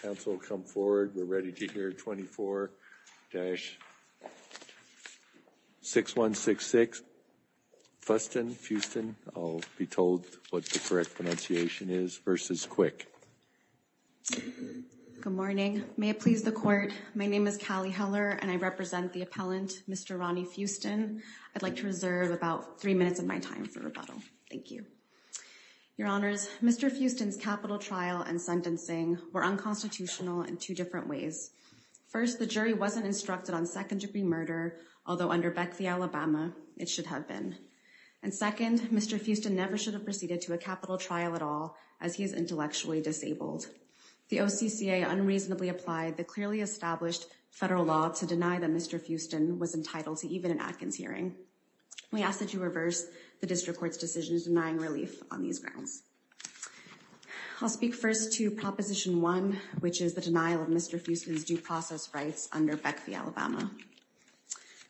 Good morning. May it please the Court, my name is Callie Heller and I represent the appellant Mr. Ronnie Fuston. I'd like to reserve about 3 minutes of my time for rebuttal. Thank you. Your Honours, Mr. Fuston's capital trial and sentencing were unconstitutional in two different ways. First, the jury wasn't instructed on second-degree murder, although under Beck v. Alabama it should have been. And second, Mr. Fuston never should have proceeded to a capital trial at all as he is intellectually disabled. The OCCA unreasonably applied the clearly established federal law to deny that Mr. Fuston was entitled to even an Atkins hearing. We ask that you reverse the District Court's decision denying relief on these grounds. I'll speak first to Proposition 1, which is the denial of Mr. Fuston's due process rights under Beck v. Alabama.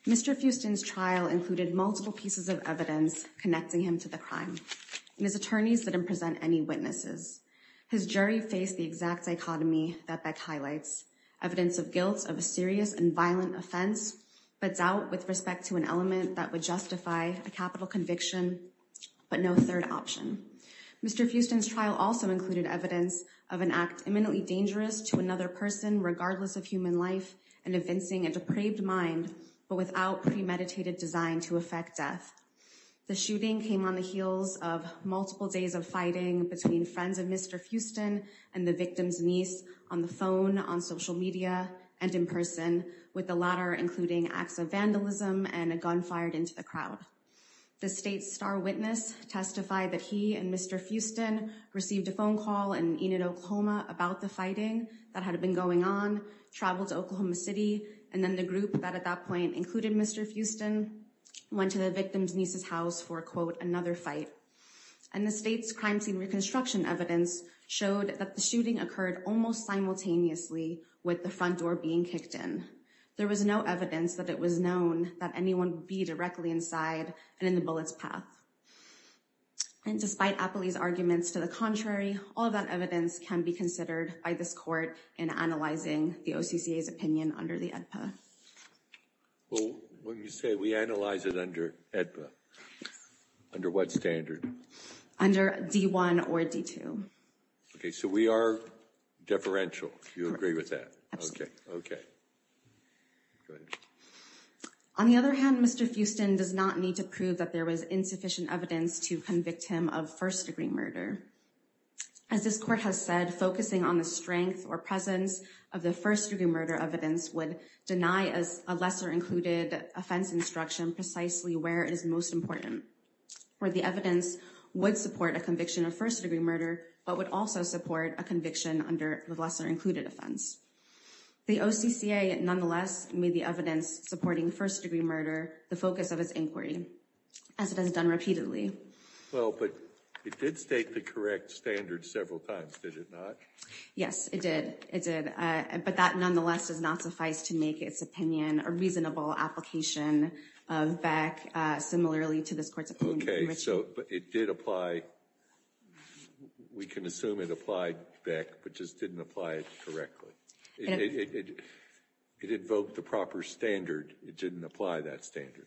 Mr. Fuston's trial included multiple pieces of evidence connecting him to the crime, and his attorneys didn't present any witnesses. His jury faced the exact dichotomy that Beck highlights, evidence of guilt of a serious and violent offense, but doubt with respect to an element that would justify a capital conviction, but no third option. Mr. Fuston's trial also included evidence of an act imminently dangerous to another person regardless of human life and evincing a depraved mind, but without premeditated design to affect death. The shooting came on the heels of multiple days of fighting between friends of Mr. Fuston and the victim's niece on the phone, on social media, and in person, with the latter including acts of vandalism and a gun fired into the crowd. The state's star witness testified that he and Mr. Fuston received a phone call in Enid, Oklahoma about the fighting that had been going on, traveled to Oklahoma City, and then the group that at that point included Mr. Fuston went to the victim's niece's house for, quote, another fight. And the state's crime scene reconstruction evidence showed that the shooting occurred almost simultaneously with the front door being There was no evidence that it was known that anyone would be directly inside and in the bullet's path. And despite Apley's arguments to the contrary, all of that evidence can be considered by this court in analyzing the OCCA's opinion under the AEDPA. Well, when you say we analyze it under AEDPA, under what standard? Under D1 or D2. Okay, so we are differential, you agree with that? Absolutely. Okay, good. On the other hand, Mr. Fuston does not need to prove that there was insufficient evidence to convict him of first-degree murder. As this court has said, focusing on the strength or presence of the first-degree murder evidence would deny a lesser-included offense instruction precisely where it is most important, where the evidence would support a conviction of first-degree murder but would also support a conviction under the lesser-included offense. The OCCA, nonetheless, made the evidence supporting first-degree murder the focus of its inquiry, as it has done repeatedly. Well, but it did state the correct standard several times, did it not? Yes, it did. It did. But that, nonetheless, does not suffice to make its opinion a reasonable application of Beck similarly to this court's opinion. Okay, so it did apply. We can assume it applied Beck, but just didn't apply it correctly. It invoked the proper standard. It didn't apply that standard.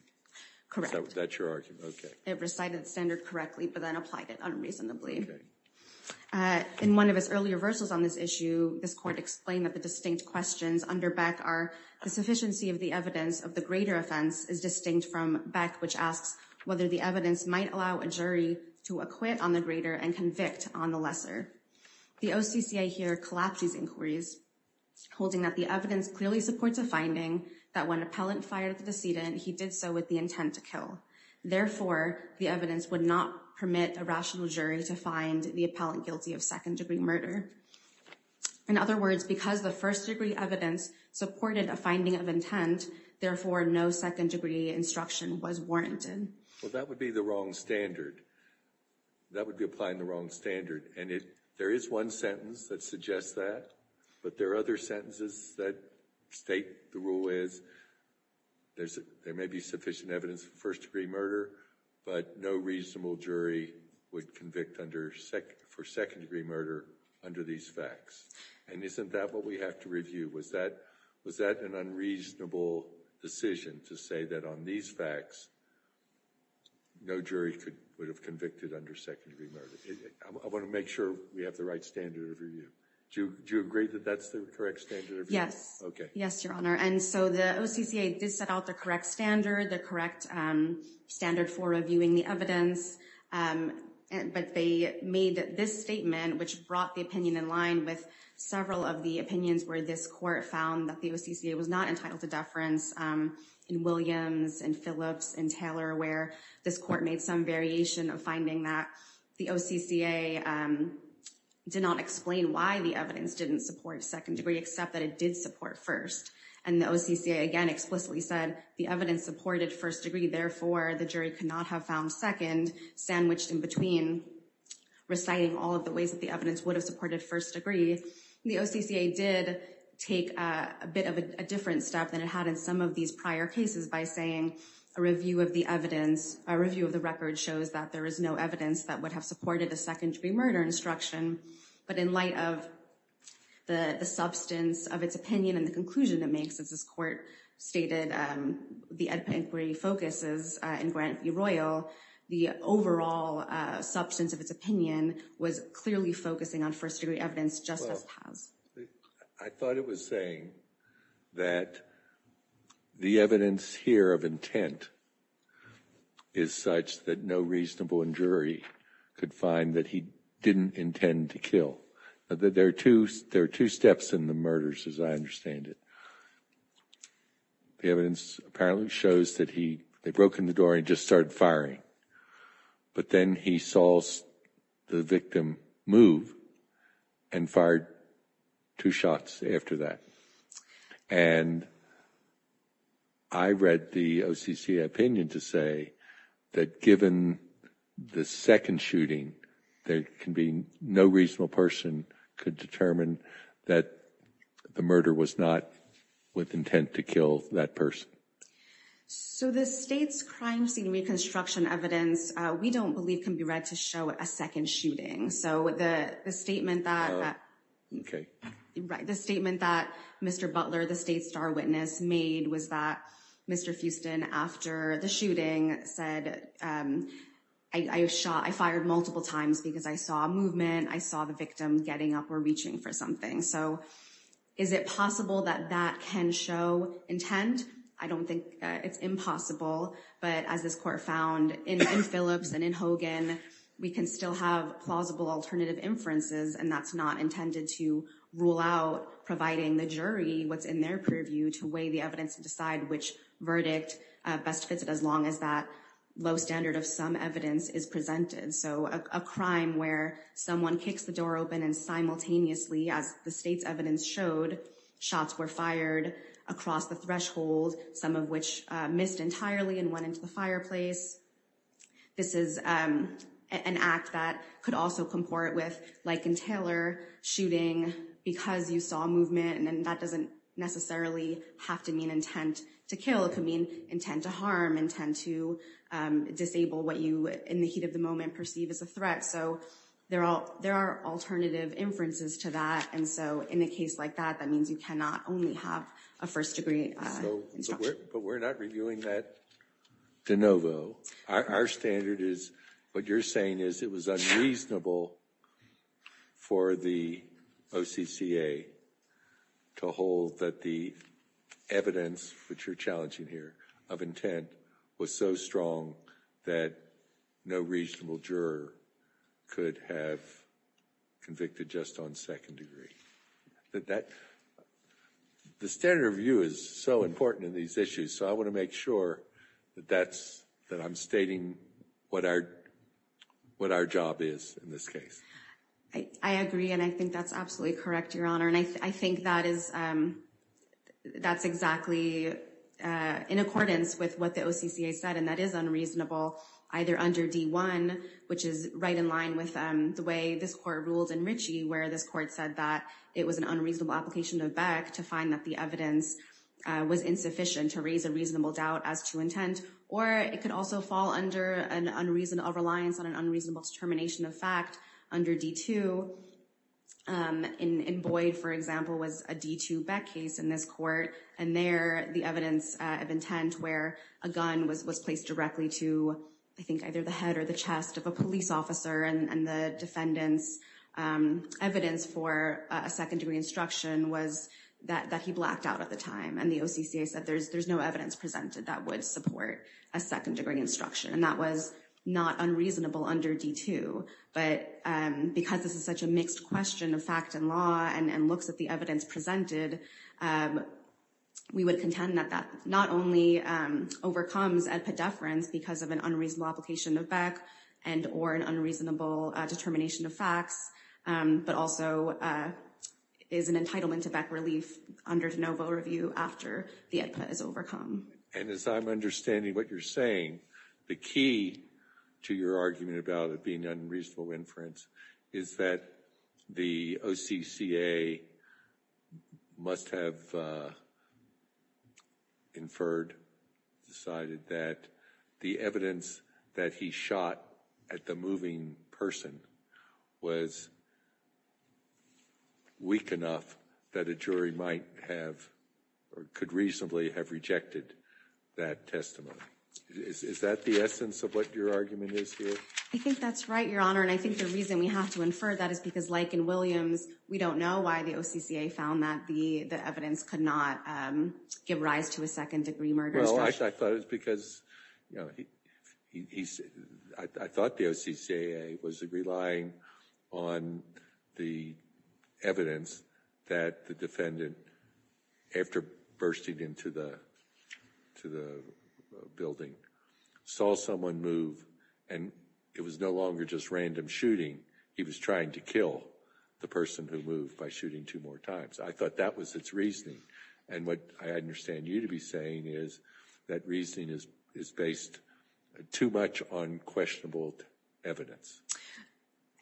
Correct. That's your argument? Okay. It recited the standard correctly but then applied it unreasonably. In one of his earlier verses on this issue, this court explained that the distinct questions under Beck are the sufficiency of the evidence of the greater offense is distinct from Beck, which asks whether the evidence might allow a jury to acquit on the greater and convict on the lesser. The OCCA here collapsed these inquiries, holding that the evidence clearly supports a finding that when an appellant fired the decedent, he did so with the intent to kill. Therefore, the evidence would not permit a rational jury to find the appellant guilty of second-degree murder. In other words, because the first-degree evidence supported a finding of intent, therefore, no second-degree instruction was warranted. Well, that would be the wrong standard. That would be applying the wrong standard. And there is one sentence that suggests that, but there are other sentences that state the rule is there may be sufficient evidence for first-degree murder, but no reasonable jury would convict for second-degree murder under these facts. And isn't that what we have to review? Was that an unreasonable decision to say that on these facts, no jury would have convicted under second-degree murder? I want to make sure we have the right standard of review. Do you agree that that's the correct standard of review? Yes. Yes, Your Honor. And so the OCCA did set out the correct standard, the correct standard for reviewing the evidence. But they made this statement, which brought the opinion in line with several of the opinions where this court found that the OCCA was not entitled to deference in Williams and Phillips and Taylor, where this court made some variation of finding that the OCCA did not explain why the evidence didn't support second-degree, except that it did support first. And the OCCA, again, explicitly said the evidence supported first-degree, therefore, the jury could not have found second, sandwiched in between, reciting all of the ways that the evidence would have supported first-degree. The OCCA did take a bit of a different step than it had in some of these prior cases by saying a review of the evidence, a review of the record, shows that there is no evidence that would have supported a second-degree murder instruction. But in light of the substance of its opinion and the conclusion it makes, as this court stated, the Edpa inquiry focuses in Grant v. Royal, the overall substance of its opinion was clearly focusing on first-degree evidence, just as Paz. I thought it was saying that the evidence here of intent is such that no reasonable jury could find that he didn't intend to kill. There are two steps in the murders as I understand it. The evidence apparently shows that he, they broke in the door and just started firing, but then he saw the victim move and fired two shots after that. And I read the OCCA opinion to say that given the second shooting, there can be no reasonable person could determine that the murder was not with intent to kill that person. So the state's crime scene reconstruction evidence, we don't believe, can be read to show a second shooting. So the statement that Mr. Butler, the state's star witness, made was that Mr. Houston, after the shooting, said, I fired multiple times because I saw a reaching for something. So is it possible that that can show intent? I don't think it's impossible, but as this court found in Phillips and in Hogan, we can still have plausible alternative inferences. And that's not intended to rule out providing the jury what's in their purview to weigh the evidence and decide which verdict best fits it as long as that low standard of some evidence is presented. So a crime where someone kicks the door open and simultaneously, as the state's evidence showed, shots were fired across the threshold, some of which missed entirely and went into the fireplace. This is an act that could also comport with, like in Taylor, shooting because you saw movement. And then that doesn't necessarily have to mean intent to kill. It could intend to harm, intend to disable what you, in the heat of the moment, perceive as a threat. So there are alternative inferences to that. And so in a case like that, that means you cannot only have a first degree instruction. But we're not reviewing that de novo. Our standard is, what you're saying is it was unreasonable for the OCCA to hold that the evidence, which you're challenging here, of intent was so strong that no reasonable juror could have convicted just on second degree. The standard of view is so important in these issues. So I want to make sure that I'm stating what our job is in this case. I agree. And I think that's absolutely in accordance with what the OCCA said. And that is unreasonable, either under D1, which is right in line with the way this court ruled in Ritchie, where this court said that it was an unreasonable application of Beck to find that the evidence was insufficient to raise a reasonable doubt as to intent. Or it could also fall under an unreasonable reliance on an unreasonable determination of fact under D2. In Boyd, for example, was a D2 Beck case in this court. And there, the evidence of intent where a gun was placed directly to, I think, either the head or the chest of a police officer and the defendant's evidence for a second degree instruction was that he blacked out at the time. And the OCCA said there's no evidence presented that would support a second degree instruction. And that was not unreasonable under D2. But because this is such a mixed question of fact and law and looks at the evidence presented, we would contend that that not only overcomes AEDPA deference because of an unreasonable application of Beck and or an unreasonable determination of facts, but also is an entitlement to Beck relief under de novo review after the AEDPA is overcome. And as I'm understanding what you're saying, the key to your argument about it being unreasonable inference is that the OCCA must have inferred, decided that the evidence that he shot at the moving person was weak enough that a jury might have or could reasonably have rejected that testimony. Is that the essence of what your argument is here? I think that's right, Your Honor. And I think the reason we have to infer that is because, like in Williams, we don't know why the OCCA found that the evidence could not give rise to a second degree murder. Well, I thought it was because, you know, I thought the OCCA was relying on the evidence that the defendant, after bursting into the building, saw someone move and it was no longer just random shooting. He was trying to kill the person who moved by shooting two more times. I thought that was its reasoning. And what I understand you to be saying is that reasoning is based too much on questionable evidence.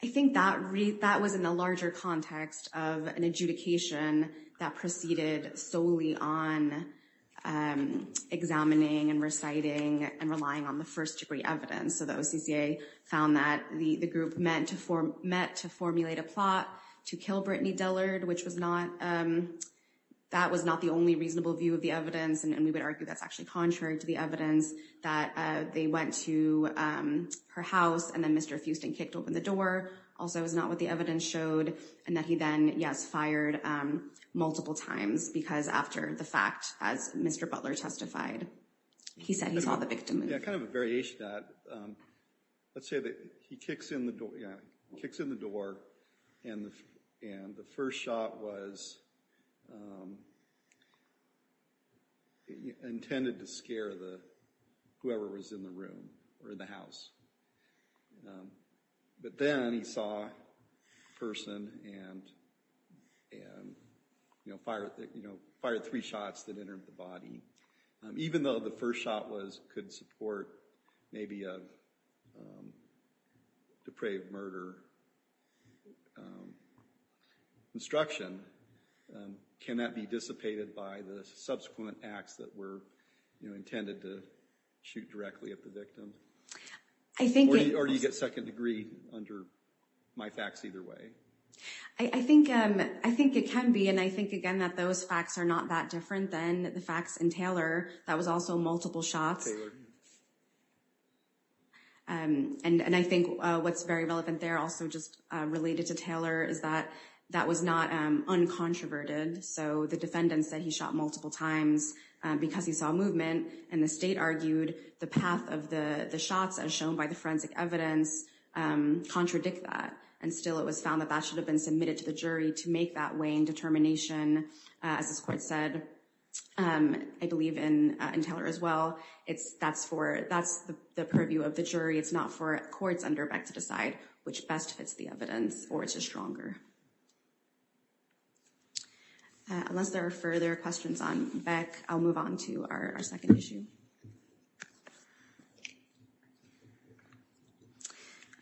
I think that read that was in the larger context of an adjudication that proceeded solely on examining and reciting and relying on the first degree evidence. So the OCCA found that the group meant to form met to formulate a plot to kill Brittany Dillard, which was not that was not the only reasonable view of the evidence. And we would argue that's actually contrary to the evidence that they went to her house and then Mr. Fuston kicked open the door. Also, it was not what the evidence showed. And that he then, yes, fired multiple times because after the fact, as Mr. Butler testified, he said he saw the victim. Kind of a variation of that. Let's say that he kicks in the door and the first shot was intended to scare the whoever was in the room or in the house. But then he saw a person and and, you know, fired, you know, fired three shots that entered the body, even though the first shot was could support maybe a depraved murder instruction. Can that be dissipated by the subsequent acts that were, you know, intended to shoot directly at the victim? I think you already get second degree under my facts either way. I think I think it can be. And I think, again, that those facts are not that different than the facts in Taylor. That was also multiple shots. And I think what's very relevant there also just related to Taylor is that that was not uncontroverted. So the defendant said he shot multiple times because he saw movement and the argued the path of the shots as shown by the forensic evidence contradict that. And still, it was found that that should have been submitted to the jury to make that weighing determination. As this court said, I believe in Taylor as well. It's that's for that's the purview of the jury. It's not for courts under back to decide which best fits the evidence or it's just stronger. Unless there are further questions on back, I'll move on to our second issue.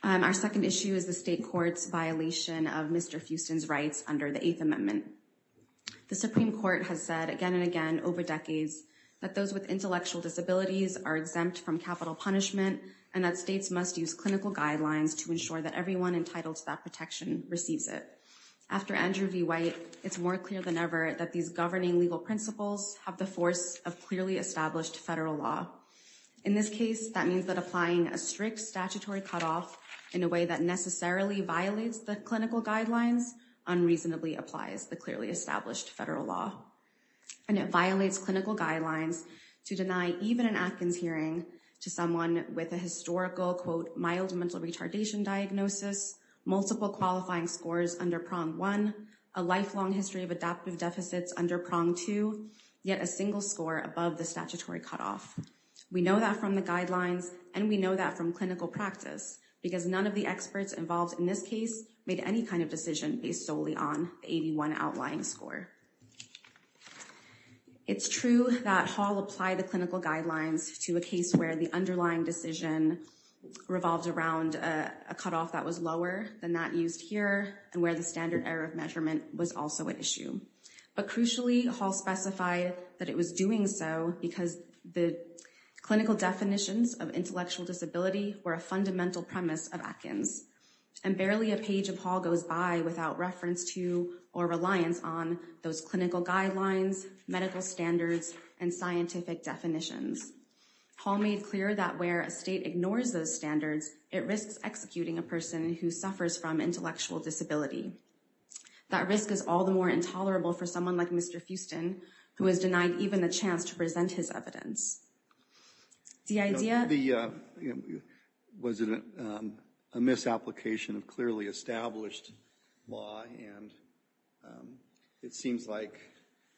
And our second issue is the state court's violation of Mr. Houston's rights under the Eighth Amendment. The Supreme Court has said again and again over decades that those with intellectual disabilities are exempt from capital punishment and that states must use clinical guidelines to ensure that everyone entitled to that protection receives it. After Andrew V. White, it's more clear than ever that these governing legal principles have the force of clearly established federal law. In this case, that means that applying a strict statutory cutoff in a way that necessarily violates the clinical guidelines unreasonably applies the clearly established federal law. And it violates clinical guidelines to deny even an Atkins hearing to someone with a historical, quote, mild mental retardation diagnosis, multiple qualifying scores under prong one, a lifelong history of adaptive deficits under prong two, yet a single score above the statutory cutoff. We know that from the guidelines and we know that from clinical practice because none of the experts involved in this case made any kind of decision based solely on the 81 outlying score. It's true that Hall applied the clinical guidelines to a case where the underlying decision revolved around a cutoff that was lower than that used here and where the was also an issue. But crucially, Hall specified that it was doing so because the clinical definitions of intellectual disability were a fundamental premise of Atkins. And barely a page of Hall goes by without reference to or reliance on those clinical guidelines, medical standards, and scientific definitions. Hall made clear that where a state ignores those standards, it risks executing a person who suffers from intellectual disability. That risk is all the more intolerable for someone like Mr. Houston, who was denied even a chance to present his evidence. The idea... Was it a misapplication of clearly established law? And it seems like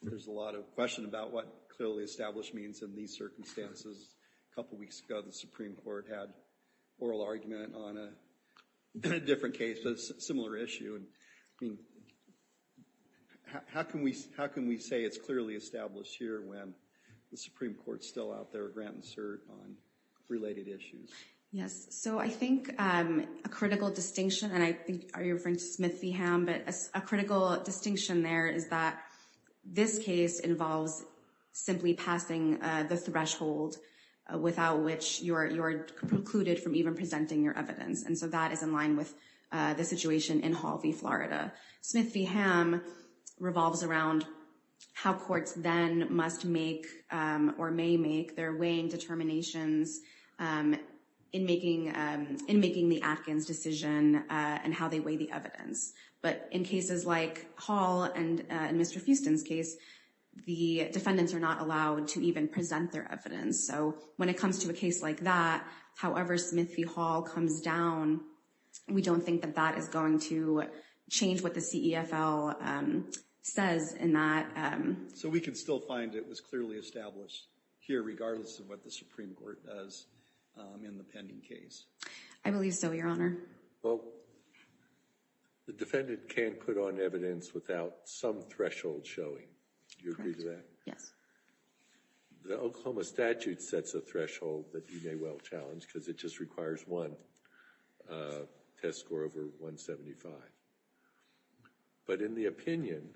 there's a lot of question about what clearly established means in these circumstances. A couple weeks ago, the Supreme Court made an argument on a different case, a similar issue. How can we say it's clearly established here when the Supreme Court's still out there, grant and cert, on related issues? Yes. So I think a critical distinction, and I think you're referring to Smith v. Ham, but a critical distinction there is that this case involves simply passing the threshold without which you're precluded from even presenting your evidence. And so that is in line with the situation in Hall v. Florida. Smith v. Ham revolves around how courts then must make or may make their weighing determinations in making the Atkins decision and how they weigh the evidence. But in cases like Hall and Mr. Houston's case, the defendants are not allowed to even present their evidence. So when it comes to a case like that, however Smith v. Hall comes down, we don't think that that is going to change what the CEFL says in that. So we can still find it was clearly established here regardless of what the Supreme Court does in the pending case? I believe so, Your Honor. Well, the defendant can't put on evidence without some threshold showing. Do you agree to that? Yes. The Oklahoma statute sets a threshold that you may well challenge because it just requires one test score over 175. But in the opinion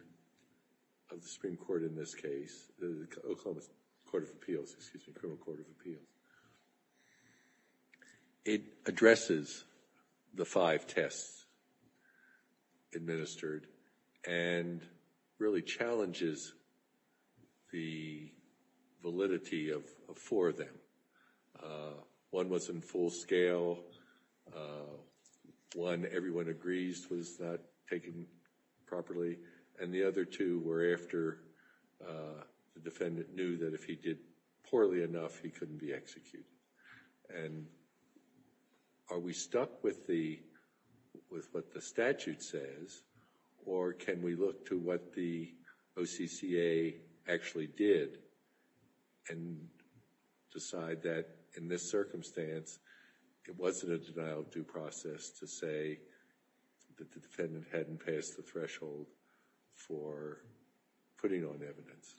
of the Supreme Court in this case, the Oklahoma Court of Appeals, excuse me, Criminal Court of Appeals, it addresses the five tests administered and really challenges the validity of four of them. One was in full scale, one everyone agrees was not taken properly, and the other two were after the defendant knew that if he did poorly enough, he couldn't be executed. And are we stuck with what the statute says or can we look to what the OCCA actually did and decide that in this circumstance, it wasn't a denial of due process to say that the defendant hadn't passed the threshold for putting on evidence?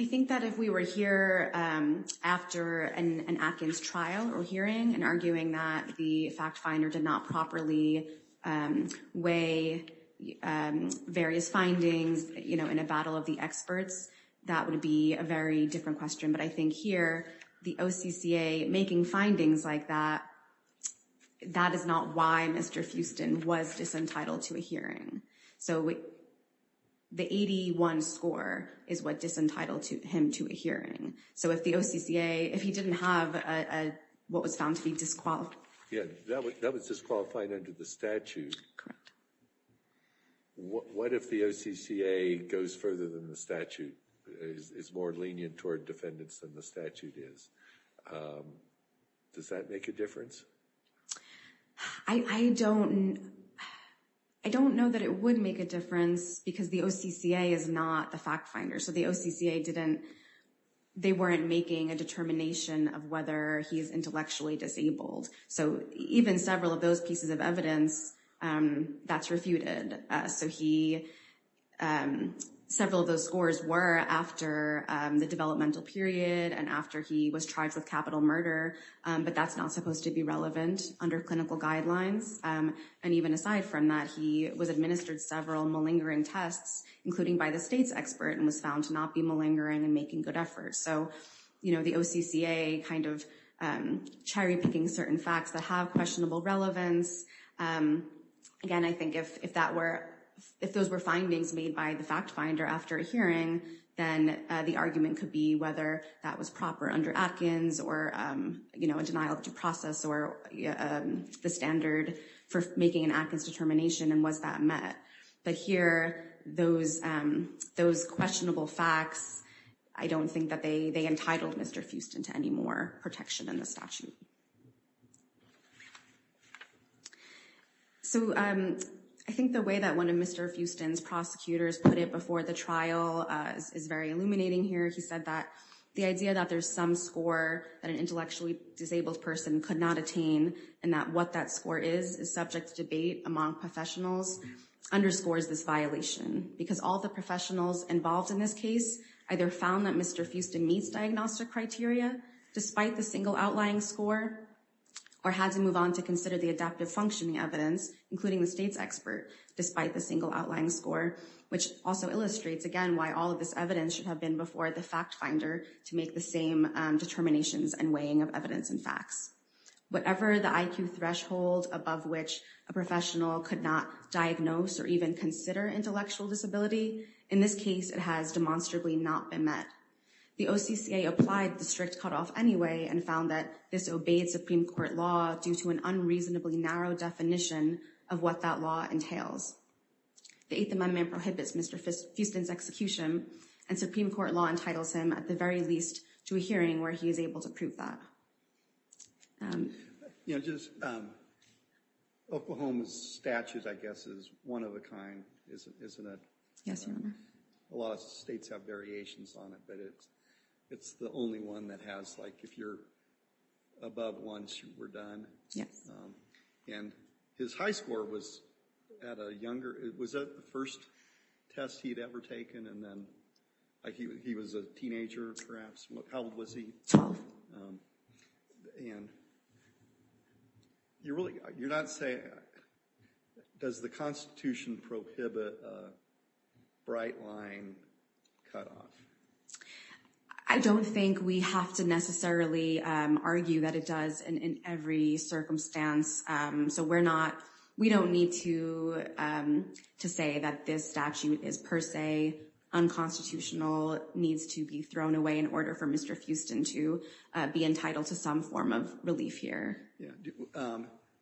I think that if we were here after an Atkins trial or hearing and arguing that the fact finder did not properly weigh various findings in a battle of the experts, that would be a very different question. But I think here, the OCCA making findings like that, that is not why Mr. Houston was disentitled to a hearing. So the 81 score is what disentitled him to a hearing. So if the OCCA, if he didn't have what was found to be disqualified. Yeah, that was disqualified under the statute. What if the OCCA goes further than the statute, is more lenient toward defendants than the statute is? Does that make a difference? I don't know that it would make a difference because the OCCA is not the fact finder. So the OCCA didn't, they weren't making a determination of whether he's intellectually disabled. So even several of those pieces of evidence, that's refuted. So he, several of those scores were after the developmental period and after he was charged with capital murder, but that's not supposed to be relevant under clinical guidelines. And even aside from that, he was administered several malingering tests, including by the state's expert and was found to not be malingering and making good efforts. So the OCCA kind of cherry picking certain facts that have questionable relevance. Again, I think if that were, if those were findings made by the fact finder after a hearing, then the argument could be whether that was proper under Atkins or a denial of due process or the standard for making an Atkins determination and was that met. But here, those questionable facts, I don't think that they entitled Mr. Houston to any more protection in the statute. So I think the way that one of Mr. Houston's prosecutors put it before the trial is very illuminating here. He said that the idea that there's some score that an intellectually disabled person could not attain and that what that score is, is subject to debate among professionals, underscores this violation. Because all the professionals involved in this case, either found that Mr. Houston meets diagnostic criteria, despite the single outlying score, or had to move on to consider the adaptive functioning evidence, including the state's expert, despite the single outlying score, which also illustrates again why all of this evidence should have been before the fact finder to make the same determinations and weighing of evidence and facts. Whatever the IQ threshold above which a professional could not diagnose or even consider intellectual disability, in this case it has demonstrably not been met. The OCCA applied the strict cutoff anyway and found that this obeyed Supreme Court law due to an unreasonably narrow definition of what that law entails. The Eighth Amendment prohibits Mr. Houston's execution and Supreme Court law entitles him at the very least to a hearing where he is able to prove that. You know, just Oklahoma's statute, I guess, is one of a kind, isn't it? Yes, Your Honor. A lot of states have variations on it, but it's the only one that has like if you're above once you were done. Yes. And his high score was at a younger, was that the first test he'd ever taken? And then he was a teenager perhaps, how old was he? Twelve. And you're really, you're not saying, does the Constitution prohibit a bright line cutoff? I don't think we have to necessarily argue that it does in every circumstance. So we're not, we don't need to say that this statute is per se unconstitutional, needs to be thrown away in order for Mr. Houston to be entitled to some form of relief here.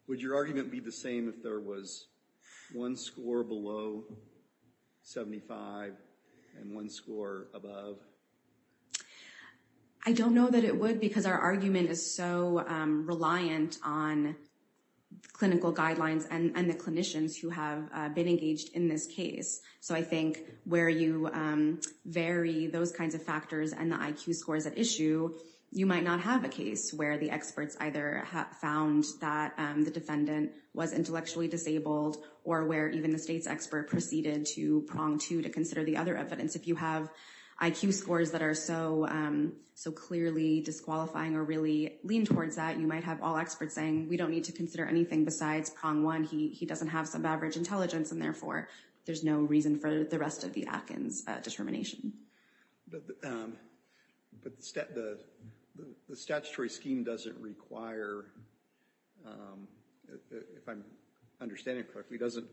Would your argument be the same if there was one score below 75 and one score above? I don't know that it would because our argument is so reliant on clinical guidelines and the clinicians who have been engaged in this case. So I think where you vary those kinds of factors and the IQ scores at issue, you might not have a case where the experts either found that the defendant was intellectually disabled or where even the state's expert proceeded to prong two to consider the other evidence. If you have IQ scores that are so clearly disqualifying or really lean towards that, you might have all experts saying we don't need to consider anything besides prong one, he doesn't have average intelligence and therefore there's no reason for the rest of the Atkins determination. But the statutory scheme doesn't require, if I'm understanding correctly, doesn't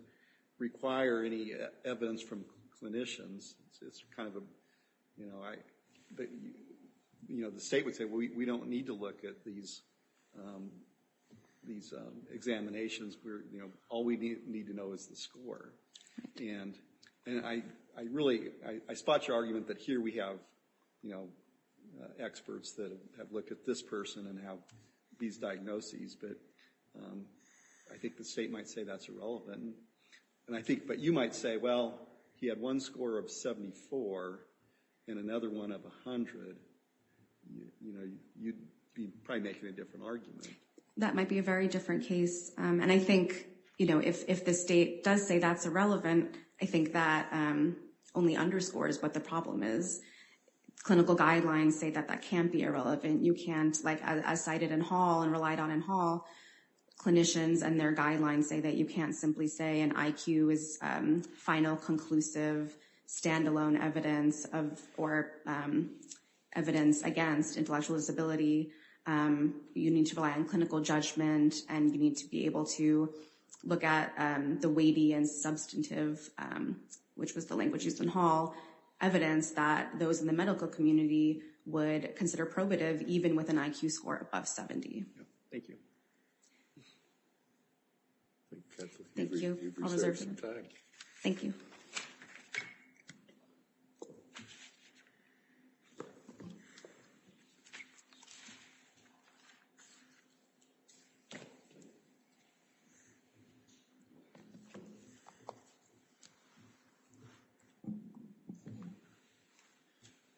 require any evidence from clinicians. It's kind of a, you know, the state would say we don't need to look at these these examinations where, you know, all we need to know is the score. And I really, I spot your argument that here we have, you know, experts that have looked at this person and have these diagnoses, but I think the state might say that's irrelevant. And I think, but you might say, well, he had one score of 74 and another one of 100, you know, you'd be probably making a different argument. That might be a very different case. And I think, you know, if the state does say that's irrelevant, I think that only underscores what the problem is. Clinical guidelines say that that can't be irrelevant. You can't, like I cited in Hall and relied on in Hall, clinicians and their guidelines say that you can't simply say an IQ is final, conclusive, standalone evidence of, or evidence against intellectual disability. You need to rely on clinical judgment and you need to be able to look at the weighty and substantive, which was the language used in Hall, evidence that those in the medical community would consider probative even with an IQ score above 70. Thank you. Thank you. Thank you. I'll reserve some time. Thank you.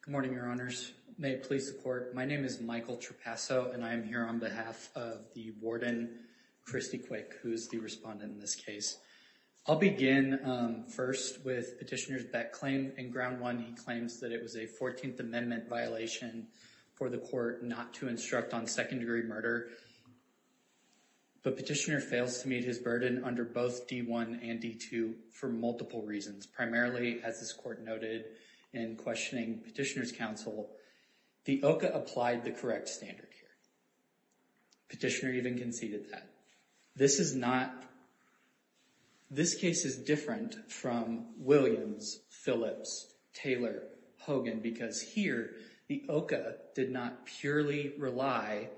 Good morning, your honors. May it please the court. My name is Michael Trapasso and I'm here on behalf of the warden, Christy Quick, who is the respondent in this case. I'll begin first with Petitioner's Beck claim. In ground one, he claims that it was a 14th Amendment violation for the court not to instruct on second degree murder, but Petitioner fails to meet his burden under both D1 and D2 for multiple reasons. Primarily, as this court noted in questioning Petitioner's counsel, the OCA applied the correct standard here. Petitioner even conceded that. This is not, this case is different from Williams, Phillips, Taylor, Hogan, because here the OCA did not purely rely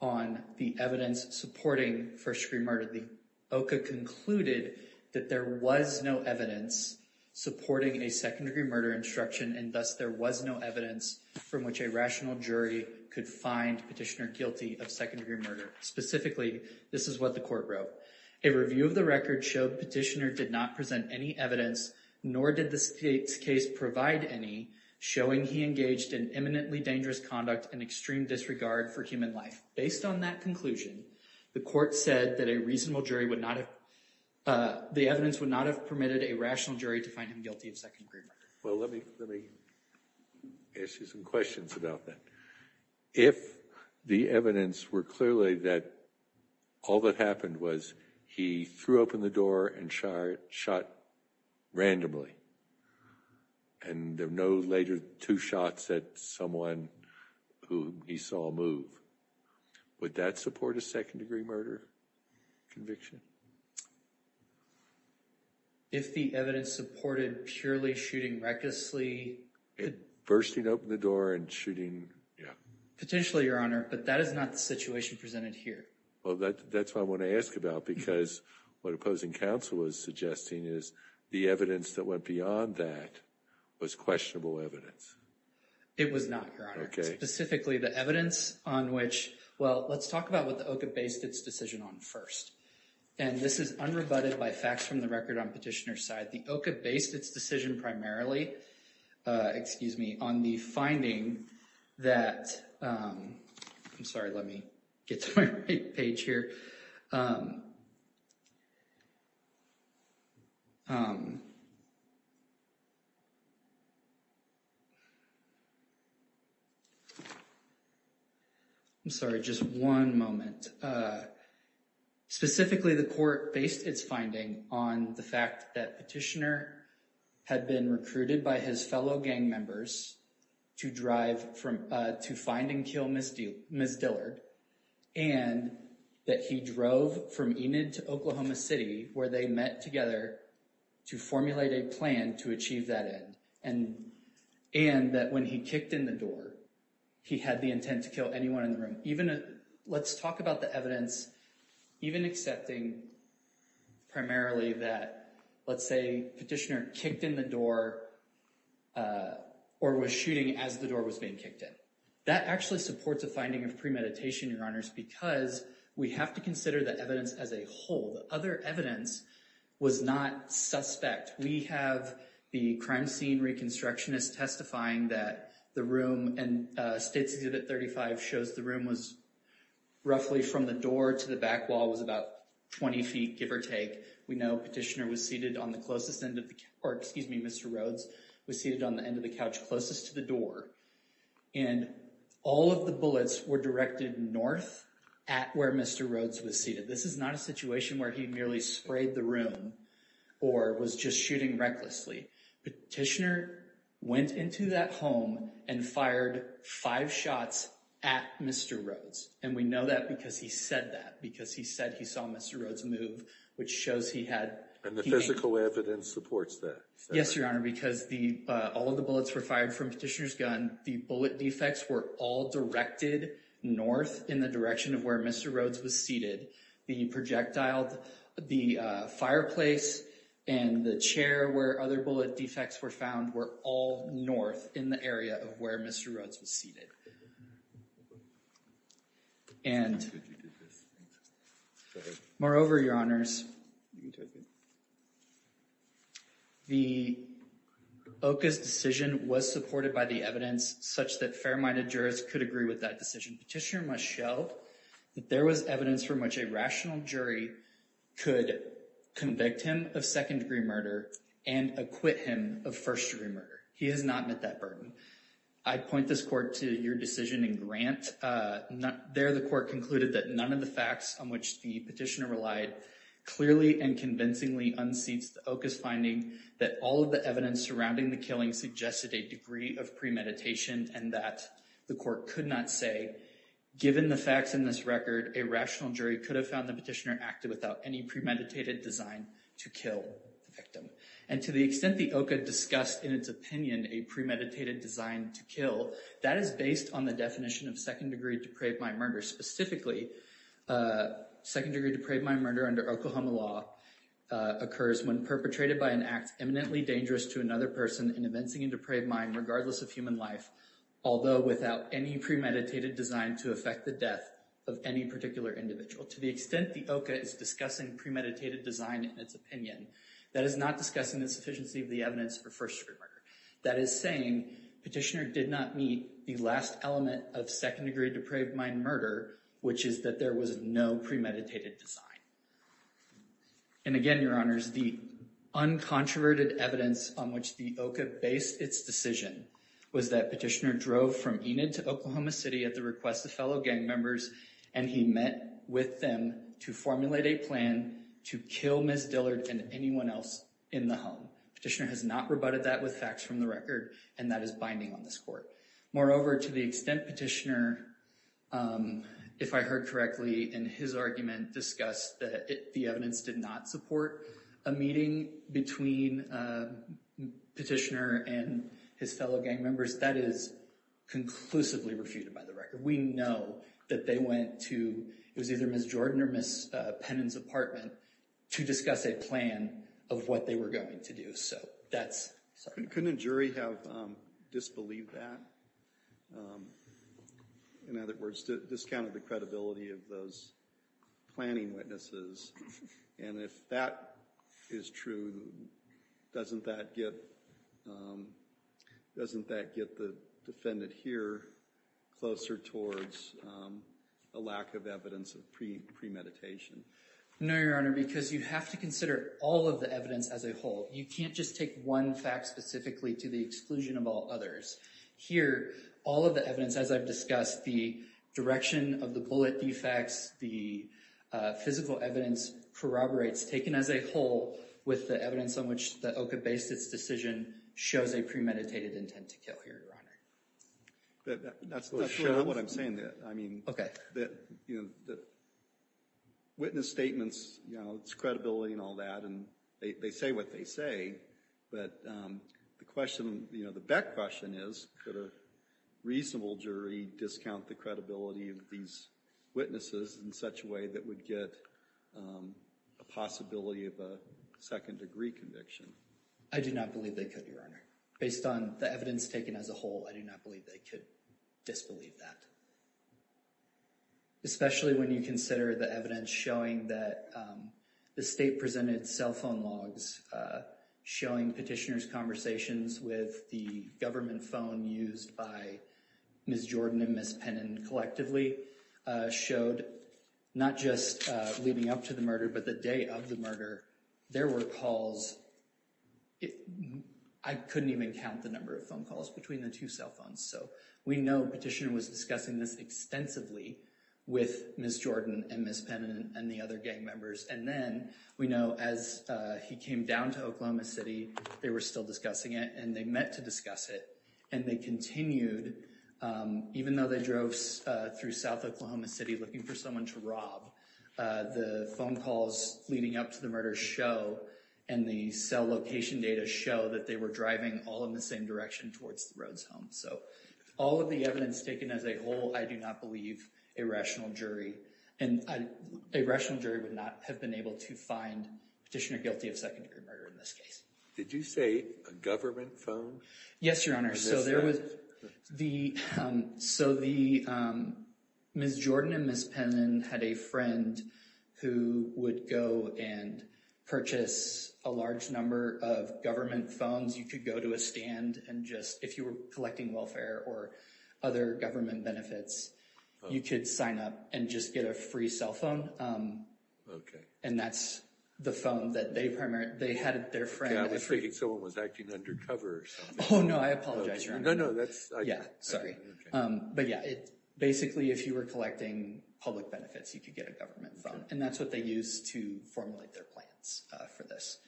on the evidence supporting first degree murder. The OCA concluded that there was no evidence supporting a second degree murder instruction and thus there was no evidence from which a rational jury could find Petitioner guilty of second degree murder. Specifically, this is what the court wrote. A review of the record showed Petitioner did not present any evidence, nor did this case provide any, showing he engaged in imminently dangerous conduct and extreme disregard for human life. Based on that conclusion, the court said that a reasonable jury would not have, the evidence would not have permitted a rational jury to find him guilty of second degree murder. Well, let me, let me ask you some questions about that. If the evidence were clearly that all that happened was he threw open the door and shot randomly and there were no later two shots at someone who he saw move, would that support a second degree murder conviction? If the evidence supported purely shooting recklessly... And bursting open the door and shooting, yeah. Potentially, Your Honor, but that is not the situation presented here. Well, that's what I want to ask about because what opposing counsel was suggesting is the evidence that went beyond that was questionable evidence. It was not, Your Honor. Specifically the evidence on which, well, let's talk about what the OCA based its decision on first. And this is unrebutted by facts from the record on Petitioner's side. The OCA based its decision primarily, excuse me, on the finding that... I'm sorry, let me get to my right page here. I'm sorry, just one moment. And specifically the court based its finding on the fact that Petitioner had been recruited by his fellow gang members to drive from, to find and kill Ms. Dillard. And that he drove from Enid to Oklahoma City where they met together to formulate a plan to achieve that end. And that when he kicked in the door, he had the intent to kill anyone in the room. Let's talk about the evidence even accepting primarily that, let's say, Petitioner kicked in the door or was shooting as the door was being kicked in. That actually supports a finding of premeditation, Your Honors, because we have to consider the evidence as a whole. The other evidence was not suspect. We have the crime scene reconstructionist testifying that the room in state exhibit 35 shows the room was roughly from the door to the back wall was about 20 feet, give or take. We know Petitioner was seated on the closest end of the... Or excuse me, Mr. Rhodes was seated on the end of the couch closest to the door. And all of the bullets were directed north at where Mr. Rhodes was seated. This is not a situation where he merely sprayed the room or was just shooting recklessly. Petitioner went into that home and fired five shots at Mr. Rhodes. And we know that because he said that, because he said he saw Mr. Rhodes move, which shows he had... And the physical evidence supports that. Yes, Your Honor, because all of the bullets were fired from Petitioner's gun. The bullet defects were all directed north in the direction of where Mr. Rhodes was seated. The projectile, the fireplace and the chair where other bullet defects were found were all north in the area of where Mr. Rhodes was seated. And moreover, Your Honors, the OCA's decision was supported by the evidence such that fair-minded jurors could agree with that decision. Petitioner must show that there was evidence from which a rational jury could convict him of second-degree murder and acquit him of first-degree murder. He has not met that burden. I point this court to your decision in Grant. There, the court concluded that none of the facts on which the petitioner relied clearly and convincingly unseats the OCA's finding that all of the evidence surrounding the killing suggested a degree of premeditation and that the court could not say, given the facts in this record, a rational jury could have found the petitioner acted without any premeditated design to kill the victim. And to the extent the OCA discussed in its opinion a premeditated design to kill, that is based on the definition of second-degree depraved mind murder. Specifically, second-degree depraved mind murder under Oklahoma law occurs when perpetrated by an act eminently dangerous to another person in evincing a any premeditated design to affect the death of any particular individual. To the extent the OCA is discussing premeditated design in its opinion, that is not discussing insufficiency of the evidence for first-degree murder. That is saying petitioner did not meet the last element of second-degree depraved mind murder, which is that there was no premeditated design. And again, your honors, the uncontroverted evidence on which the OCA based its decision was that petitioner drove from Enid to Oklahoma City at the request of fellow gang members, and he met with them to formulate a plan to kill Ms. Dillard and anyone else in the home. Petitioner has not rebutted that with facts from the record, and that is binding on this court. Moreover, to the extent petitioner, if I heard correctly in his argument, discussed that the evidence did not support a meeting between petitioner and his fellow gang members, that is conclusively refuted by the record. We know that they went to, it was either Ms. Jordan or Ms. Pennon's apartment, to discuss a plan of what they were going to do. So that's... Couldn't a jury have disbelieved that? In other words, discounted the credibility of those planning witnesses. And if that is true, doesn't that get the defendant here closer towards a lack of evidence of premeditation? No, your honor, because you have to consider all of the evidence as a whole. You can't just take one fact specifically to the exclusion of all others. Here, all of the evidence, as I've discussed, the direction of the bullet defects, the physical evidence corroborates, taken as a whole, with the evidence on which the OCA based its decision, shows a premeditated intent to kill here, your honor. That's not what I'm saying there. I mean, that, you know, the witness statements, you know, it's credibility and all that, and they say what they say. But the question, you know, the jury discount the credibility of these witnesses in such a way that would get a possibility of a second degree conviction. I do not believe they could, your honor. Based on the evidence taken as a whole, I do not believe they could disbelieve that. Especially when you consider the evidence showing that the state presented cell phone logs, showing petitioners conversations with the government phone used by Ms. Jordan and Ms. Pennon collectively, showed not just leading up to the murder, but the day of the murder, there were calls. I couldn't even count the number of phone calls between the two cell phones. So we know petitioner was discussing this extensively with Ms. Jordan and Ms. Pennon and the other gang members. And then we know as he came down to Oklahoma City, they were still discussing it and they meant to discuss it. And they continued, even though they drove through South Oklahoma City looking for someone to rob, the phone calls leading up to the murder show and the cell location data show that they were driving all in the same direction towards the Rhodes home. So all of the evidence taken as a whole, I do not believe a rational jury, and a rational jury would not have been able to find petitioner guilty of second degree murder in this case. Did you say a government phone? Yes, your honor. So there was the, so the Ms. Jordan and Ms. Pennon had a friend who would go and purchase a large number of government phones. You could go to a stand and just, if you were collecting welfare or other government benefits, you could sign up and just get a free cell phone. Okay. And that's the phone that they primarily, they had their friend. Yeah, I was thinking someone was acting undercover or something. Oh, no, I apologize, your honor. No, no, that's. Yeah, sorry. But yeah, it basically, if you were collecting public benefits, you could get a government phone and that's what they use to formulate their plans for this.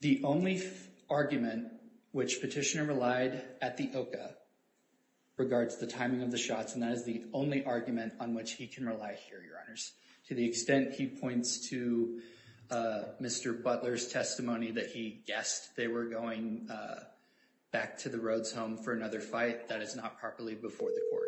The only argument which petitioner relied at the OCA regards the timing of the shots, and that is the only argument on which he can rely here, your honors. To the extent he points to Mr. Butler's testimony that he guessed they were going back to the Rhodes home for another fight, that is not properly before the court.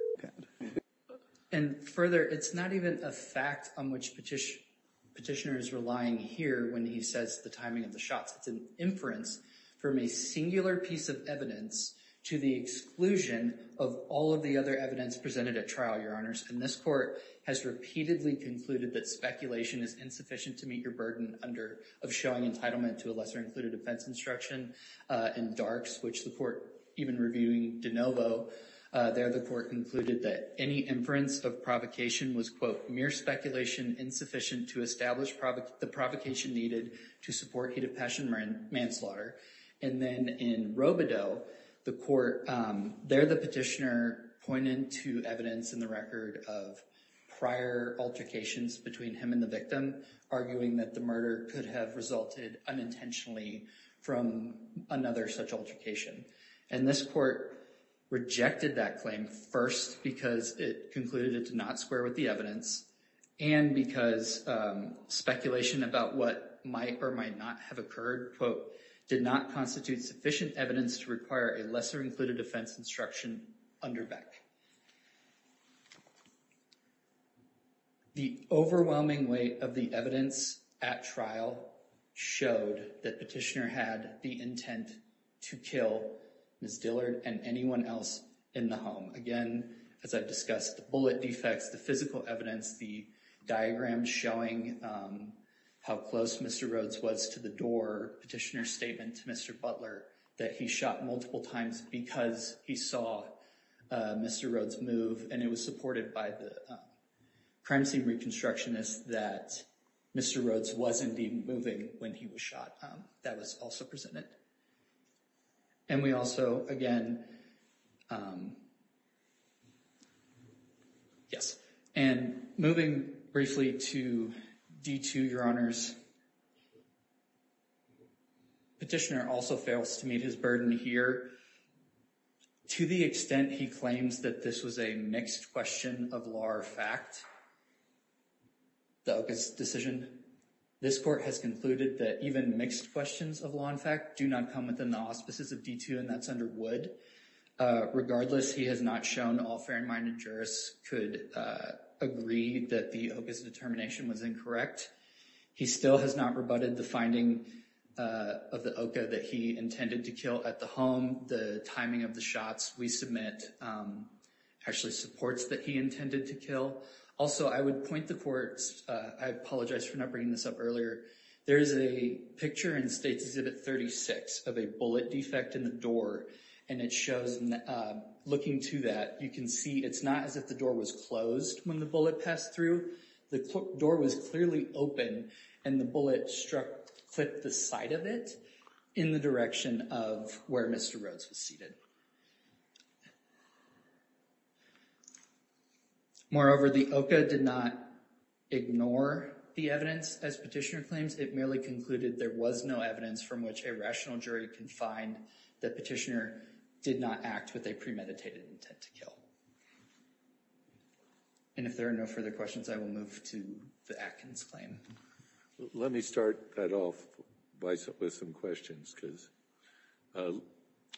And further, it's not even a fact on which petitioner is relying here when he says the timing of the shots. It's an inference from a singular piece of evidence to the exclusion of all of the other evidence presented at trial, your honors. And this court has repeatedly concluded that speculation is insufficient to meet your burden of showing entitlement to a lesser included offense instruction in Darks, which the court even reviewing DeNovo, there the court concluded that any inference of provocation was, quote, mere speculation insufficient to establish the provocation needed to support manslaughter. And then in Robodeau, the court, there the petitioner pointed to evidence in the record of prior altercations between him and the victim, arguing that the murder could have resulted unintentionally from another such altercation. And this court rejected that claim first because it concluded it did not square with the evidence, and because speculation about what might or might not have occurred, quote, did not constitute sufficient evidence to require a lesser included offense instruction under Beck. The overwhelming weight of the evidence at trial showed that petitioner had the intent to kill Ms. Dillard and anyone else in the home. Again, as I've discussed, the bullet defects, the physical evidence, the diagram showing how close Mr. Rhodes was to the door, petitioner's statement to Mr. Butler that he shot multiple times because he saw Mr. Rhodes move, and it was supported by the primacy reconstructionist that Mr. Rhodes was indeed moving when he was shot. That was also presented. And we also, again, yes, and moving briefly to D2, your honors, petitioner also fails to meet his burden here to the extent he claims that this was a mixed question of law or fact. The Ocas decision, this court has concluded that even mixed questions of law and fact do not come from the auspices of D2, and that's under Wood. Regardless, he has not shown all fair-minded jurists could agree that the Ocas determination was incorrect. He still has not rebutted the finding of the Oca that he intended to kill at the home. The timing of the shots we submit actually supports that he intended to kill. Also, I would point the court, I apologize for not bringing this up earlier, there's a picture in States Exhibit 36 of a bullet defect in the door, and it shows, looking to that, you can see it's not as if the door was closed when the bullet passed through. The door was clearly open, and the bullet struck, clipped the side of it in the direction of where Mr. Rhodes was seated. Moreover, the Oca did not ignore the evidence as Petitioner claims. It merely concluded there was no evidence from which a rational jury can find that Petitioner did not act with a premeditated intent to kill. And if there are no further questions, I will move to the Atkins claim. Let me start that off with some questions, because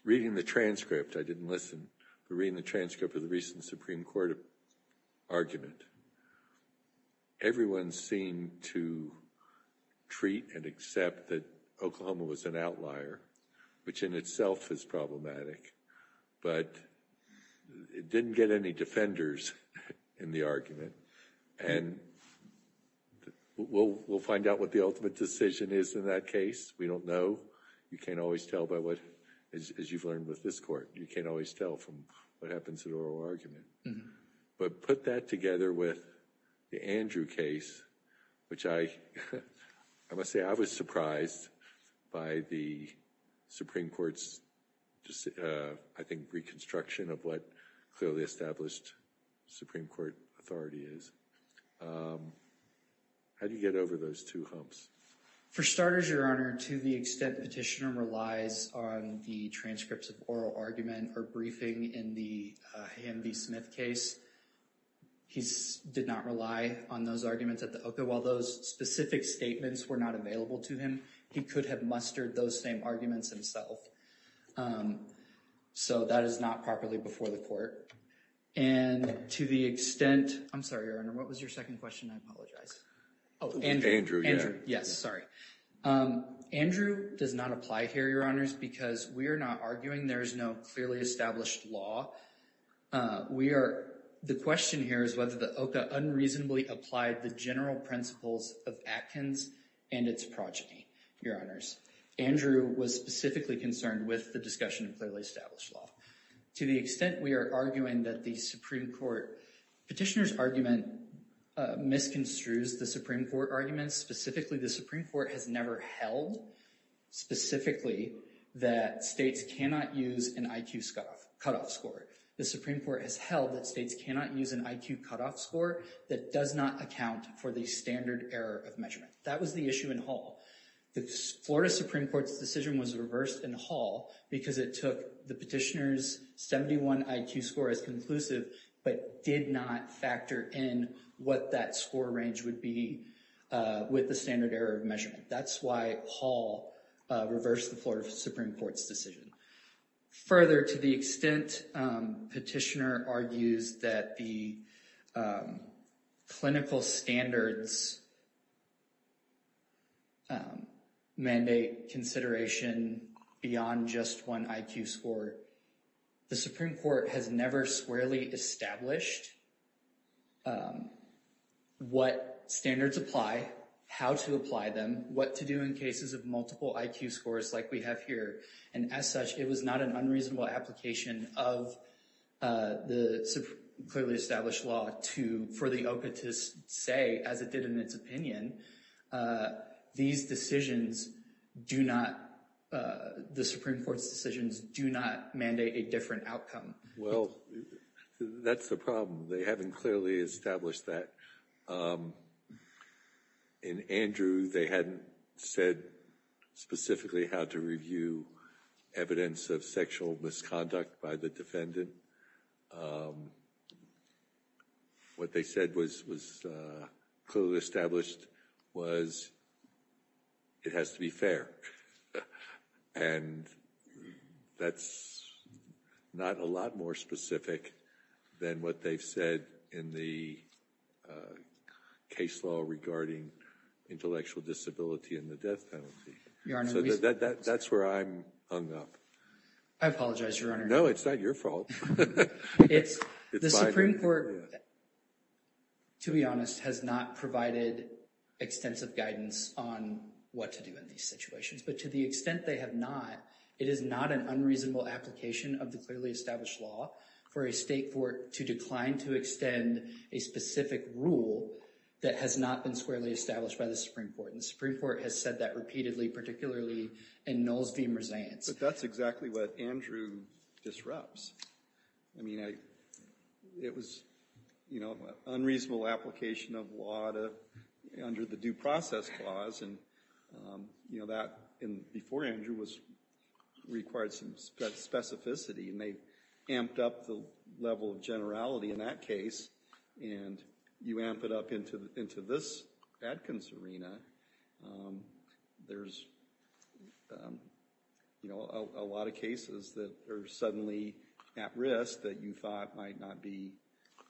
reading the transcript of the I didn't listen, but reading the transcript of the recent Supreme Court argument, everyone seemed to treat and accept that Oklahoma was an outlier, which in itself is problematic, but it didn't get any defenders in the argument. And we'll find out what the ultimate decision is in that case. We don't know. You can't always tell by what, as you've learned with this court, you can't always tell from what happens in oral argument. But put that together with the Andrew case, which I must say, I was surprised by the Supreme Court's, I think, reconstruction of what clearly established Supreme Court authority is. How do you get over those two humps? For starters, Your Honor, to the extent Petitioner relies on the transcripts of oral argument or briefing in the Ham v. Smith case, he did not rely on those arguments at the OCA. While those specific statements were not available to him, he could have mustered those same arguments himself. So that is not properly before the court. And to the extent, I'm sorry, Your Honor, what was your second question? I apologize. Oh, Andrew. Yes, sorry. Andrew does not apply here, Your Honors, because we are not arguing there is no clearly established law. The question here is whether the OCA unreasonably applied the general principles of Atkins and its progeny, Your Honors. Andrew was specifically concerned with the discussion of clearly established law. To the extent we are arguing that the Supreme Court, Petitioner's argument misconstrues the Supreme Court arguments. Specifically, the Supreme Court has never held specifically that states cannot use an IQ cutoff score. The Supreme Court has held that states cannot use an IQ cutoff score that does not account for the standard error of measurement. That was the issue in Hall. The Florida Supreme Court's decision was reversed in Hall because it took the Petitioner's 71 IQ score as conclusive, but did not factor in what that score range would be with the standard error of measurement. That's why Hall reversed the Florida Supreme Court's decision. Further, to the extent Petitioner argues that the clinical standards mandate consideration beyond just one IQ score, the Supreme Court has never squarely established what standards apply, how to apply them, what to do in cases of multiple IQ scores like we have here. As such, it was not an unreasonable application of the clearly established law for the OCA to say, as it did in its opinion, the Supreme Court's decisions do not mandate a different outcome. Well, that's the problem. They haven't clearly established that. In Andrew, they hadn't said specifically how to review evidence of sexual misconduct by the defendant. What they said was clearly established was it has to be fair, and that's not a lot more specific than what they've said in the case law regarding intellectual disability and the death penalty. So that's where I'm hung up. I apologize, Your Honor. No, it's not your fault. It's the Supreme Court, to be honest, has not provided extensive guidance on what to do in these situations. But to the extent they have not, it is not an unreasonable application of the clearly established law for a state court to decline to extend a specific rule that has not been squarely established by the Supreme Court. And the Supreme Court has said that repeatedly, particularly in Noles v. Merzaintz. But that's exactly what Andrew disrupts. I mean, it was an unreasonable application of law under the Due Process Clause, and that, before Andrew, required some specificity. And they amped up the level of generality in that case, and you amp it up into this Adkins arena. There's a lot of cases that are suddenly at risk that you thought might not be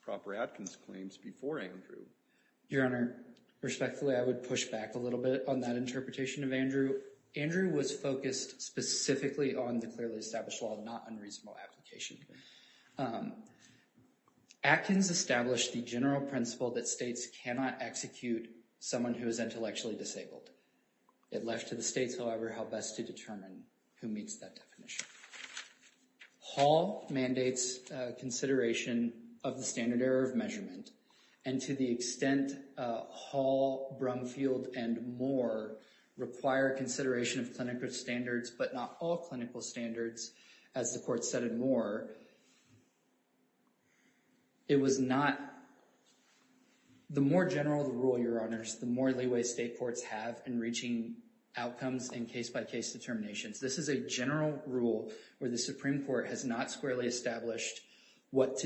proper Adkins claims before Andrew. Your Honor, respectfully, I would push back a little bit on that interpretation of Andrew. Andrew was focused specifically on the clearly established law, not unreasonable application. Adkins established the general principle that states cannot execute someone who is intellectually disabled. It left to the states, however, how best to determine who meets that definition. Hall mandates consideration of the standard error of measurement. And to the extent Hall, Brumfield, and Moore require consideration of clinical standards, but not all clinical standards, as the Court said in Moore, it was not... The more general the rule, Your Honors, the more leeway state courts have in reaching outcomes and case-by-case determinations. This is a general rule where the Supreme Court has not squarely established what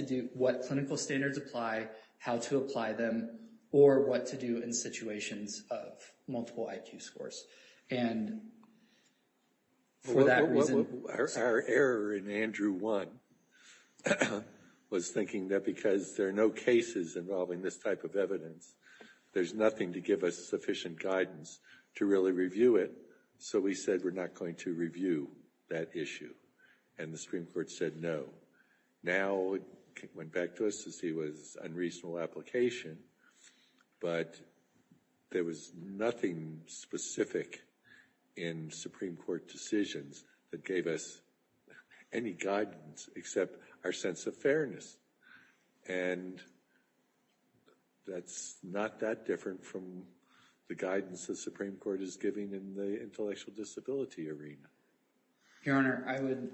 clinical standards apply, how to apply them, or what to do in situations of multiple IQ scores. And for that reason... Our error in Andrew 1 was thinking that because there are no cases involving this type of evidence, there's nothing to give us sufficient guidance to really review it. So we said we're not going to review that issue. And the Supreme Court said no. Now it went back to us to see was unreasonable application, but there was nothing specific in Supreme Court decisions that gave us any guidance except our sense of fairness. And that's not that different from the guidance the Supreme Court is giving in the intellectual disability arena. Your Honor, I would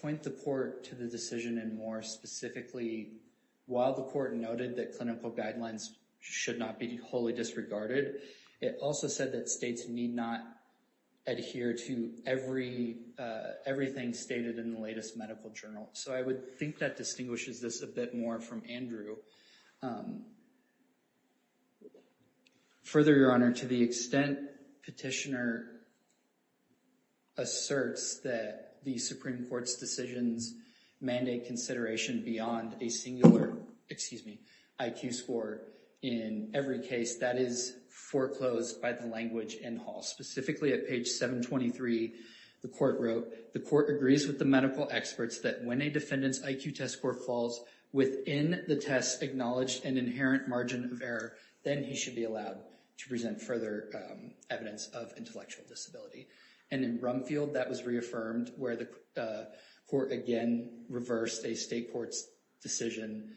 point the Court to the decision in Moore specifically while the Court noted that clinical guidelines should not be wholly disregarded. It also said that states need not adhere to everything stated in the latest medical journal. So I would think that distinguishes this a bit more from Andrew. Further, Your Honor, to the extent Petitioner asserts that the Supreme Court's decisions mandate consideration beyond a singular, excuse me, IQ score in every case, that is foreclosed by the language in Hall. Specifically at page 723, the Court wrote, the Court agrees with the medical experts that when a defendant's IQ test score falls within the test acknowledged and inherent margin of error, then he should be allowed to present further evidence of intellectual disability. And in Rumfield, that was reaffirmed where the Court again reversed a state court's decision.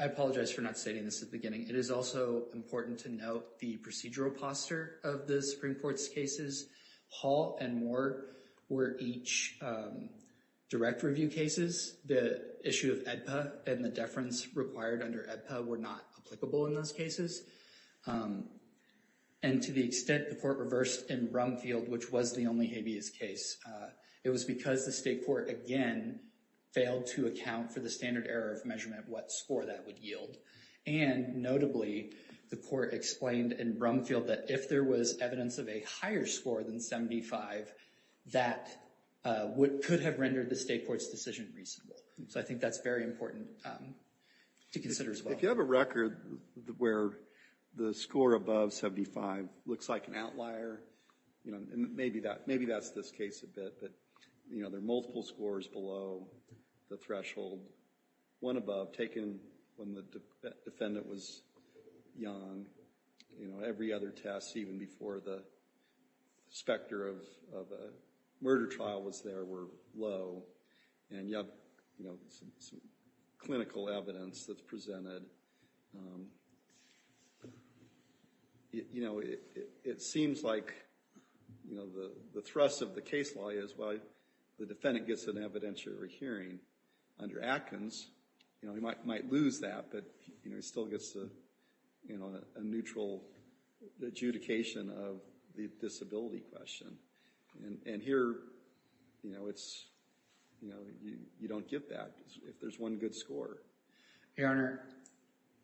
I apologize for not stating this at the beginning. It is also important to note the procedural posture of the Supreme Court's cases. Hall and Moore were each direct review cases. The issue of AEDPA and the deference required under AEDPA were not applicable in those cases. And to the extent the Court reversed in Rumfield, which was the only habeas case, it was because the state court again failed to account for the standard error of measurement what score that would yield. And notably, the Court explained in Rumfield that if there was evidence of a higher score than 75, that could have rendered the state court's decision reasonable. So I think that's very important to consider as well. If you have a record where the score above 75 looks like an outlier, you know, and maybe that's this case a bit, but you know, there are multiple scores below the threshold. One above, taken when the defendant was young, you know, every other test even before the specter of a murder trial was there were low, and you have, you know, some clinical evidence that's presented. You know, it seems like, you know, the thrust of the case law is, well, the defendant gets an hearing under Atkins. You know, he might lose that, but, you know, he still gets a, you know, a neutral adjudication of the disability question. And here, you know, it's, you know, you don't get that if there's one good score. Your Honor,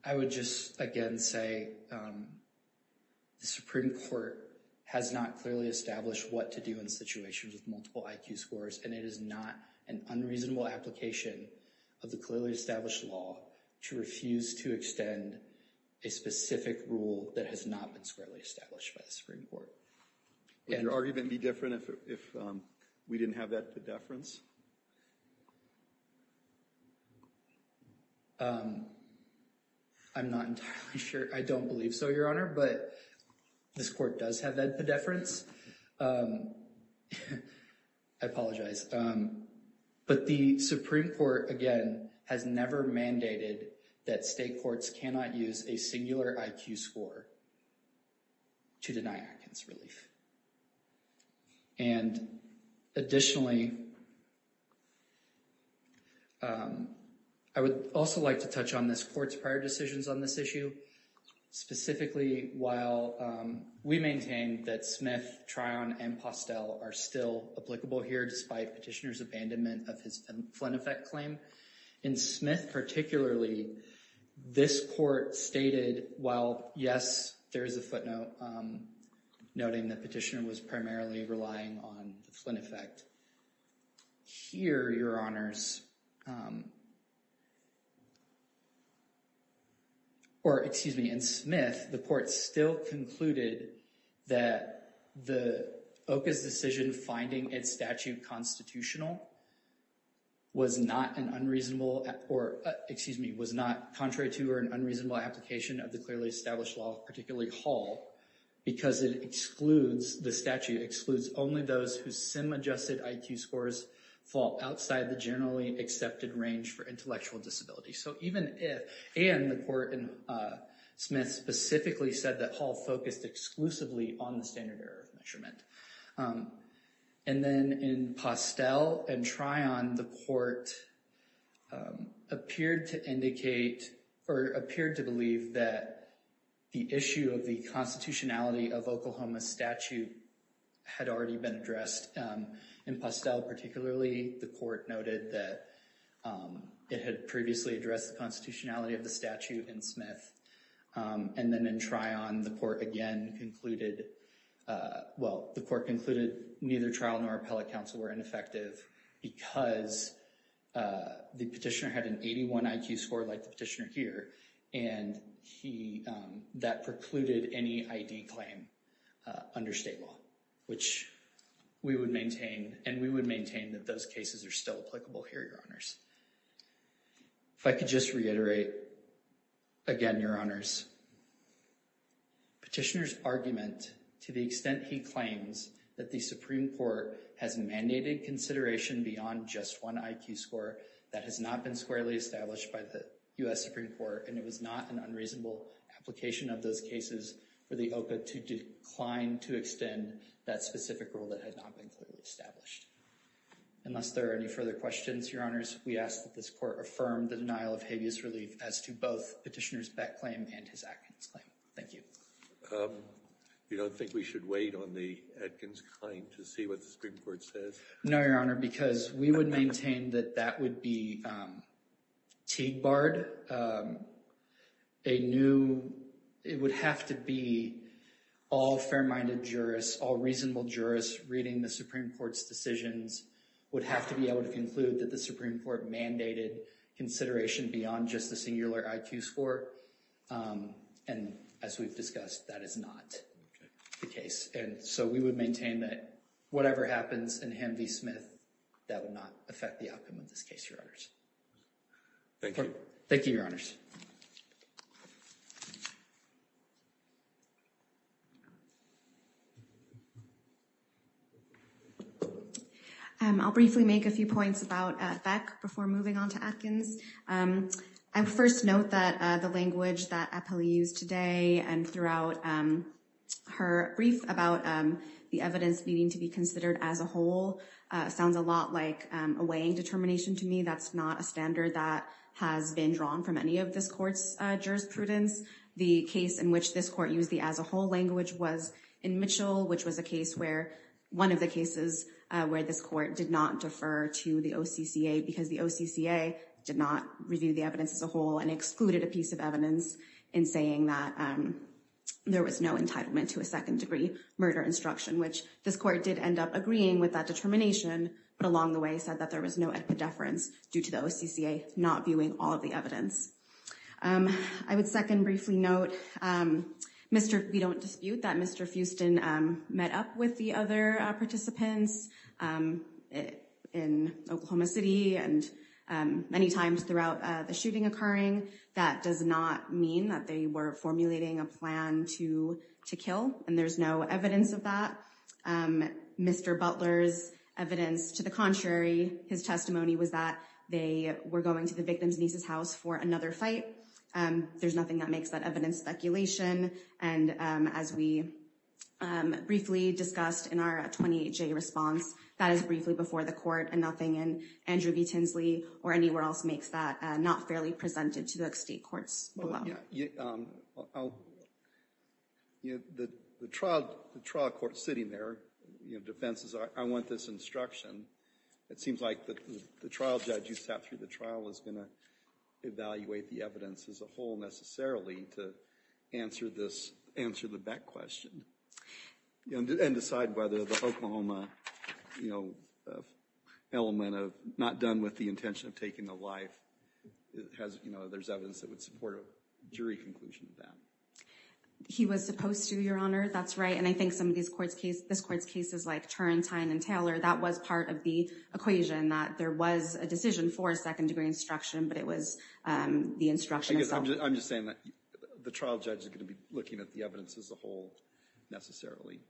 I would just again say the Supreme Court has not clearly established what to do in situations with multiple IQ scores, and it is not an unreasonable application of the clearly established law to refuse to extend a specific rule that has not been squarely established by the Supreme Court. Would your argument be different if we didn't have that pedeference? I'm not entirely sure. I don't believe so, Your Honor, but this court does have that pedeference. I apologize. But the Supreme Court, again, has never mandated that state courts cannot use a singular IQ score to deny Atkins relief. And additionally, I would also like to touch on this court's prior decisions on this issue, specifically while we maintain that Smith, Tryon, and Postel are still applicable here, despite Petitioner's abandonment of his Flynn Effect claim. In Smith particularly, this court stated, while yes, there is a footnote noting that Petitioner was primarily relying on Flynn Effect, here, Your Honors, or excuse me, in Smith, the court still concluded that the OCA's decision finding its statute constitutional was not an unreasonable, or excuse me, was not contrary to or an unreasonable application of the clearly established law, particularly Hall, because it excludes, the sim-adjusted IQ scores fall outside the generally accepted range for intellectual disability. So even if, and the court in Smith specifically said that Hall focused exclusively on the standard error of measurement. And then in Postel and Tryon, the court appeared to indicate, or appeared to that the issue of the constitutionality of Oklahoma's statute had already been addressed. In Postel particularly, the court noted that it had previously addressed the constitutionality of the statute in Smith. And then in Tryon, the court again concluded, well, the court concluded neither trial nor appellate counsel were ineffective because the petitioner had an 81 IQ score, like the petitioner here, and he, that precluded any ID claim under state law, which we would maintain, and we would maintain that those cases are still applicable here, Your Honors. If I could just reiterate again, Your Honors, Petitioner's argument, to the extent he claims that the Supreme Court has mandated consideration beyond just one IQ score, that has not been clearly established by the U.S. Supreme Court, and it was not an unreasonable application of those cases for the OCA to decline to extend that specific rule that had not been clearly established. Unless there are any further questions, Your Honors, we ask that this court affirm the denial of habeas relief as to both Petitioner's Beck claim and his Atkins claim. Thank you. You don't think we should wait on the Atkins claim to see what the Supreme Court says? No, Your Honor, because we would maintain that that would be teed barred, a new, it would have to be all fair-minded jurists, all reasonable jurists reading the Supreme Court's decisions would have to be able to conclude that the Supreme Court mandated consideration beyond just the singular IQ score, and as we've discussed, that is not the case, and so we would maintain that whatever happens in Hanvey-Smith, that would not affect the outcome of this case, Your Honors. Thank you. Thank you, Your Honors. I'll briefly make a few points about Beck before moving on to Atkins. I first note that the language that Appellee used today and throughout her brief about the evidence needing to be considered as a whole sounds a lot like a weighing determination to me. That's not a standard that has been drawn from any of this court's jurisprudence. The case in which this court used the as a whole language was in Mitchell, which was a case where, one of the cases where this court did not defer to the OCCA because the OCCA did not review the evidence as a whole and excluded a piece of evidence in saying that there was no entitlement to a second-degree murder instruction, which this court did end up agreeing with that determination, but along the way said that there was no epidefference due to the OCCA not viewing all of the evidence. I would second briefly note, we don't dispute that Mr. Fuston met up with the other participants in Oklahoma City and many times throughout the shooting occurring. That does not mean that they were formulating a plan to kill and there's no evidence of that. Mr. Butler's evidence to the contrary, his testimony was that they were going to the victim's niece's house for another fight. There's nothing that makes that evidence speculation and as we briefly discussed in our 28-J response, that is briefly before the court and nothing in Andrew B. Tinsley or anywhere else makes that not fairly presented to the state courts. The trial court sitting there defends, I want this instruction. It seems like the trial judge you sat through the trial is going to evaluate the evidence as a whole necessarily to answer the Beck question and decide whether the Oklahoma element of not done with the intention of taking the life, there's evidence that would support a jury conclusion of that. He was supposed to, Your Honor, that's right and I think some of this court's cases like Turrentine and Taylor, that was part of the equation that there was a decision for a second degree instruction, but it was the instruction itself. I'm just saying that the trial judge is going to be looking at the evidence as a whole necessarily.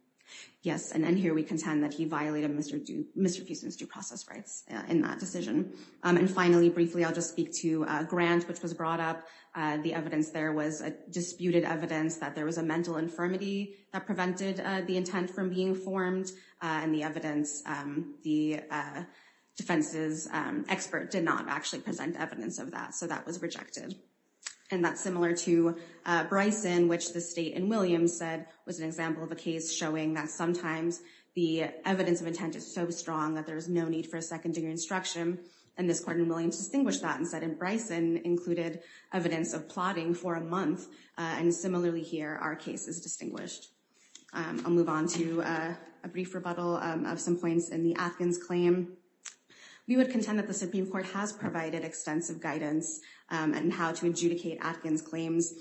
Yes and here we contend that he violated Mr. Fuson's due process rights in that decision and finally briefly I'll just speak to Grant, which was brought up. The evidence there was a disputed evidence that there was a mental infirmity that prevented the intent from being formed and the evidence, the defense's expert did not actually present evidence of that, so that was rejected and that's similar to Bryson which the state in Williams said was an example of a case showing that sometimes the evidence of intent is so strong that there's no need for a second degree instruction and this court in Williams distinguished that and said in Bryson included evidence of plotting for a month and similarly here our case is distinguished. I'll move on to a brief rebuttal of some points in the Atkins claim. We would contend that the Supreme Court has provided extensive guidance and how to adjudicate Atkins claims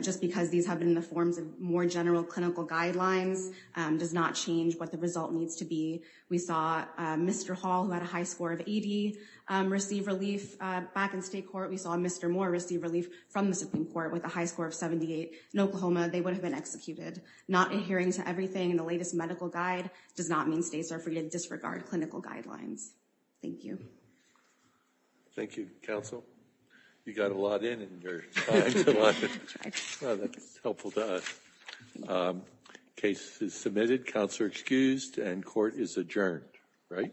just because these have been the forms of more general clinical guidelines does not change what the result needs to be. We saw Mr. Hall who had a high score of 80 receive relief back in state court. We saw Mr. Moore receive relief from the Supreme Court with a high score of 78 in Oklahoma. They would have been executed. Not adhering to everything in the Atkins claim does not mean that they disregard clinical guidelines. Thank you. Thank you, counsel. You got a lot in your time. That's helpful to us. Case is submitted. Counselor excused and court is adjourned, right?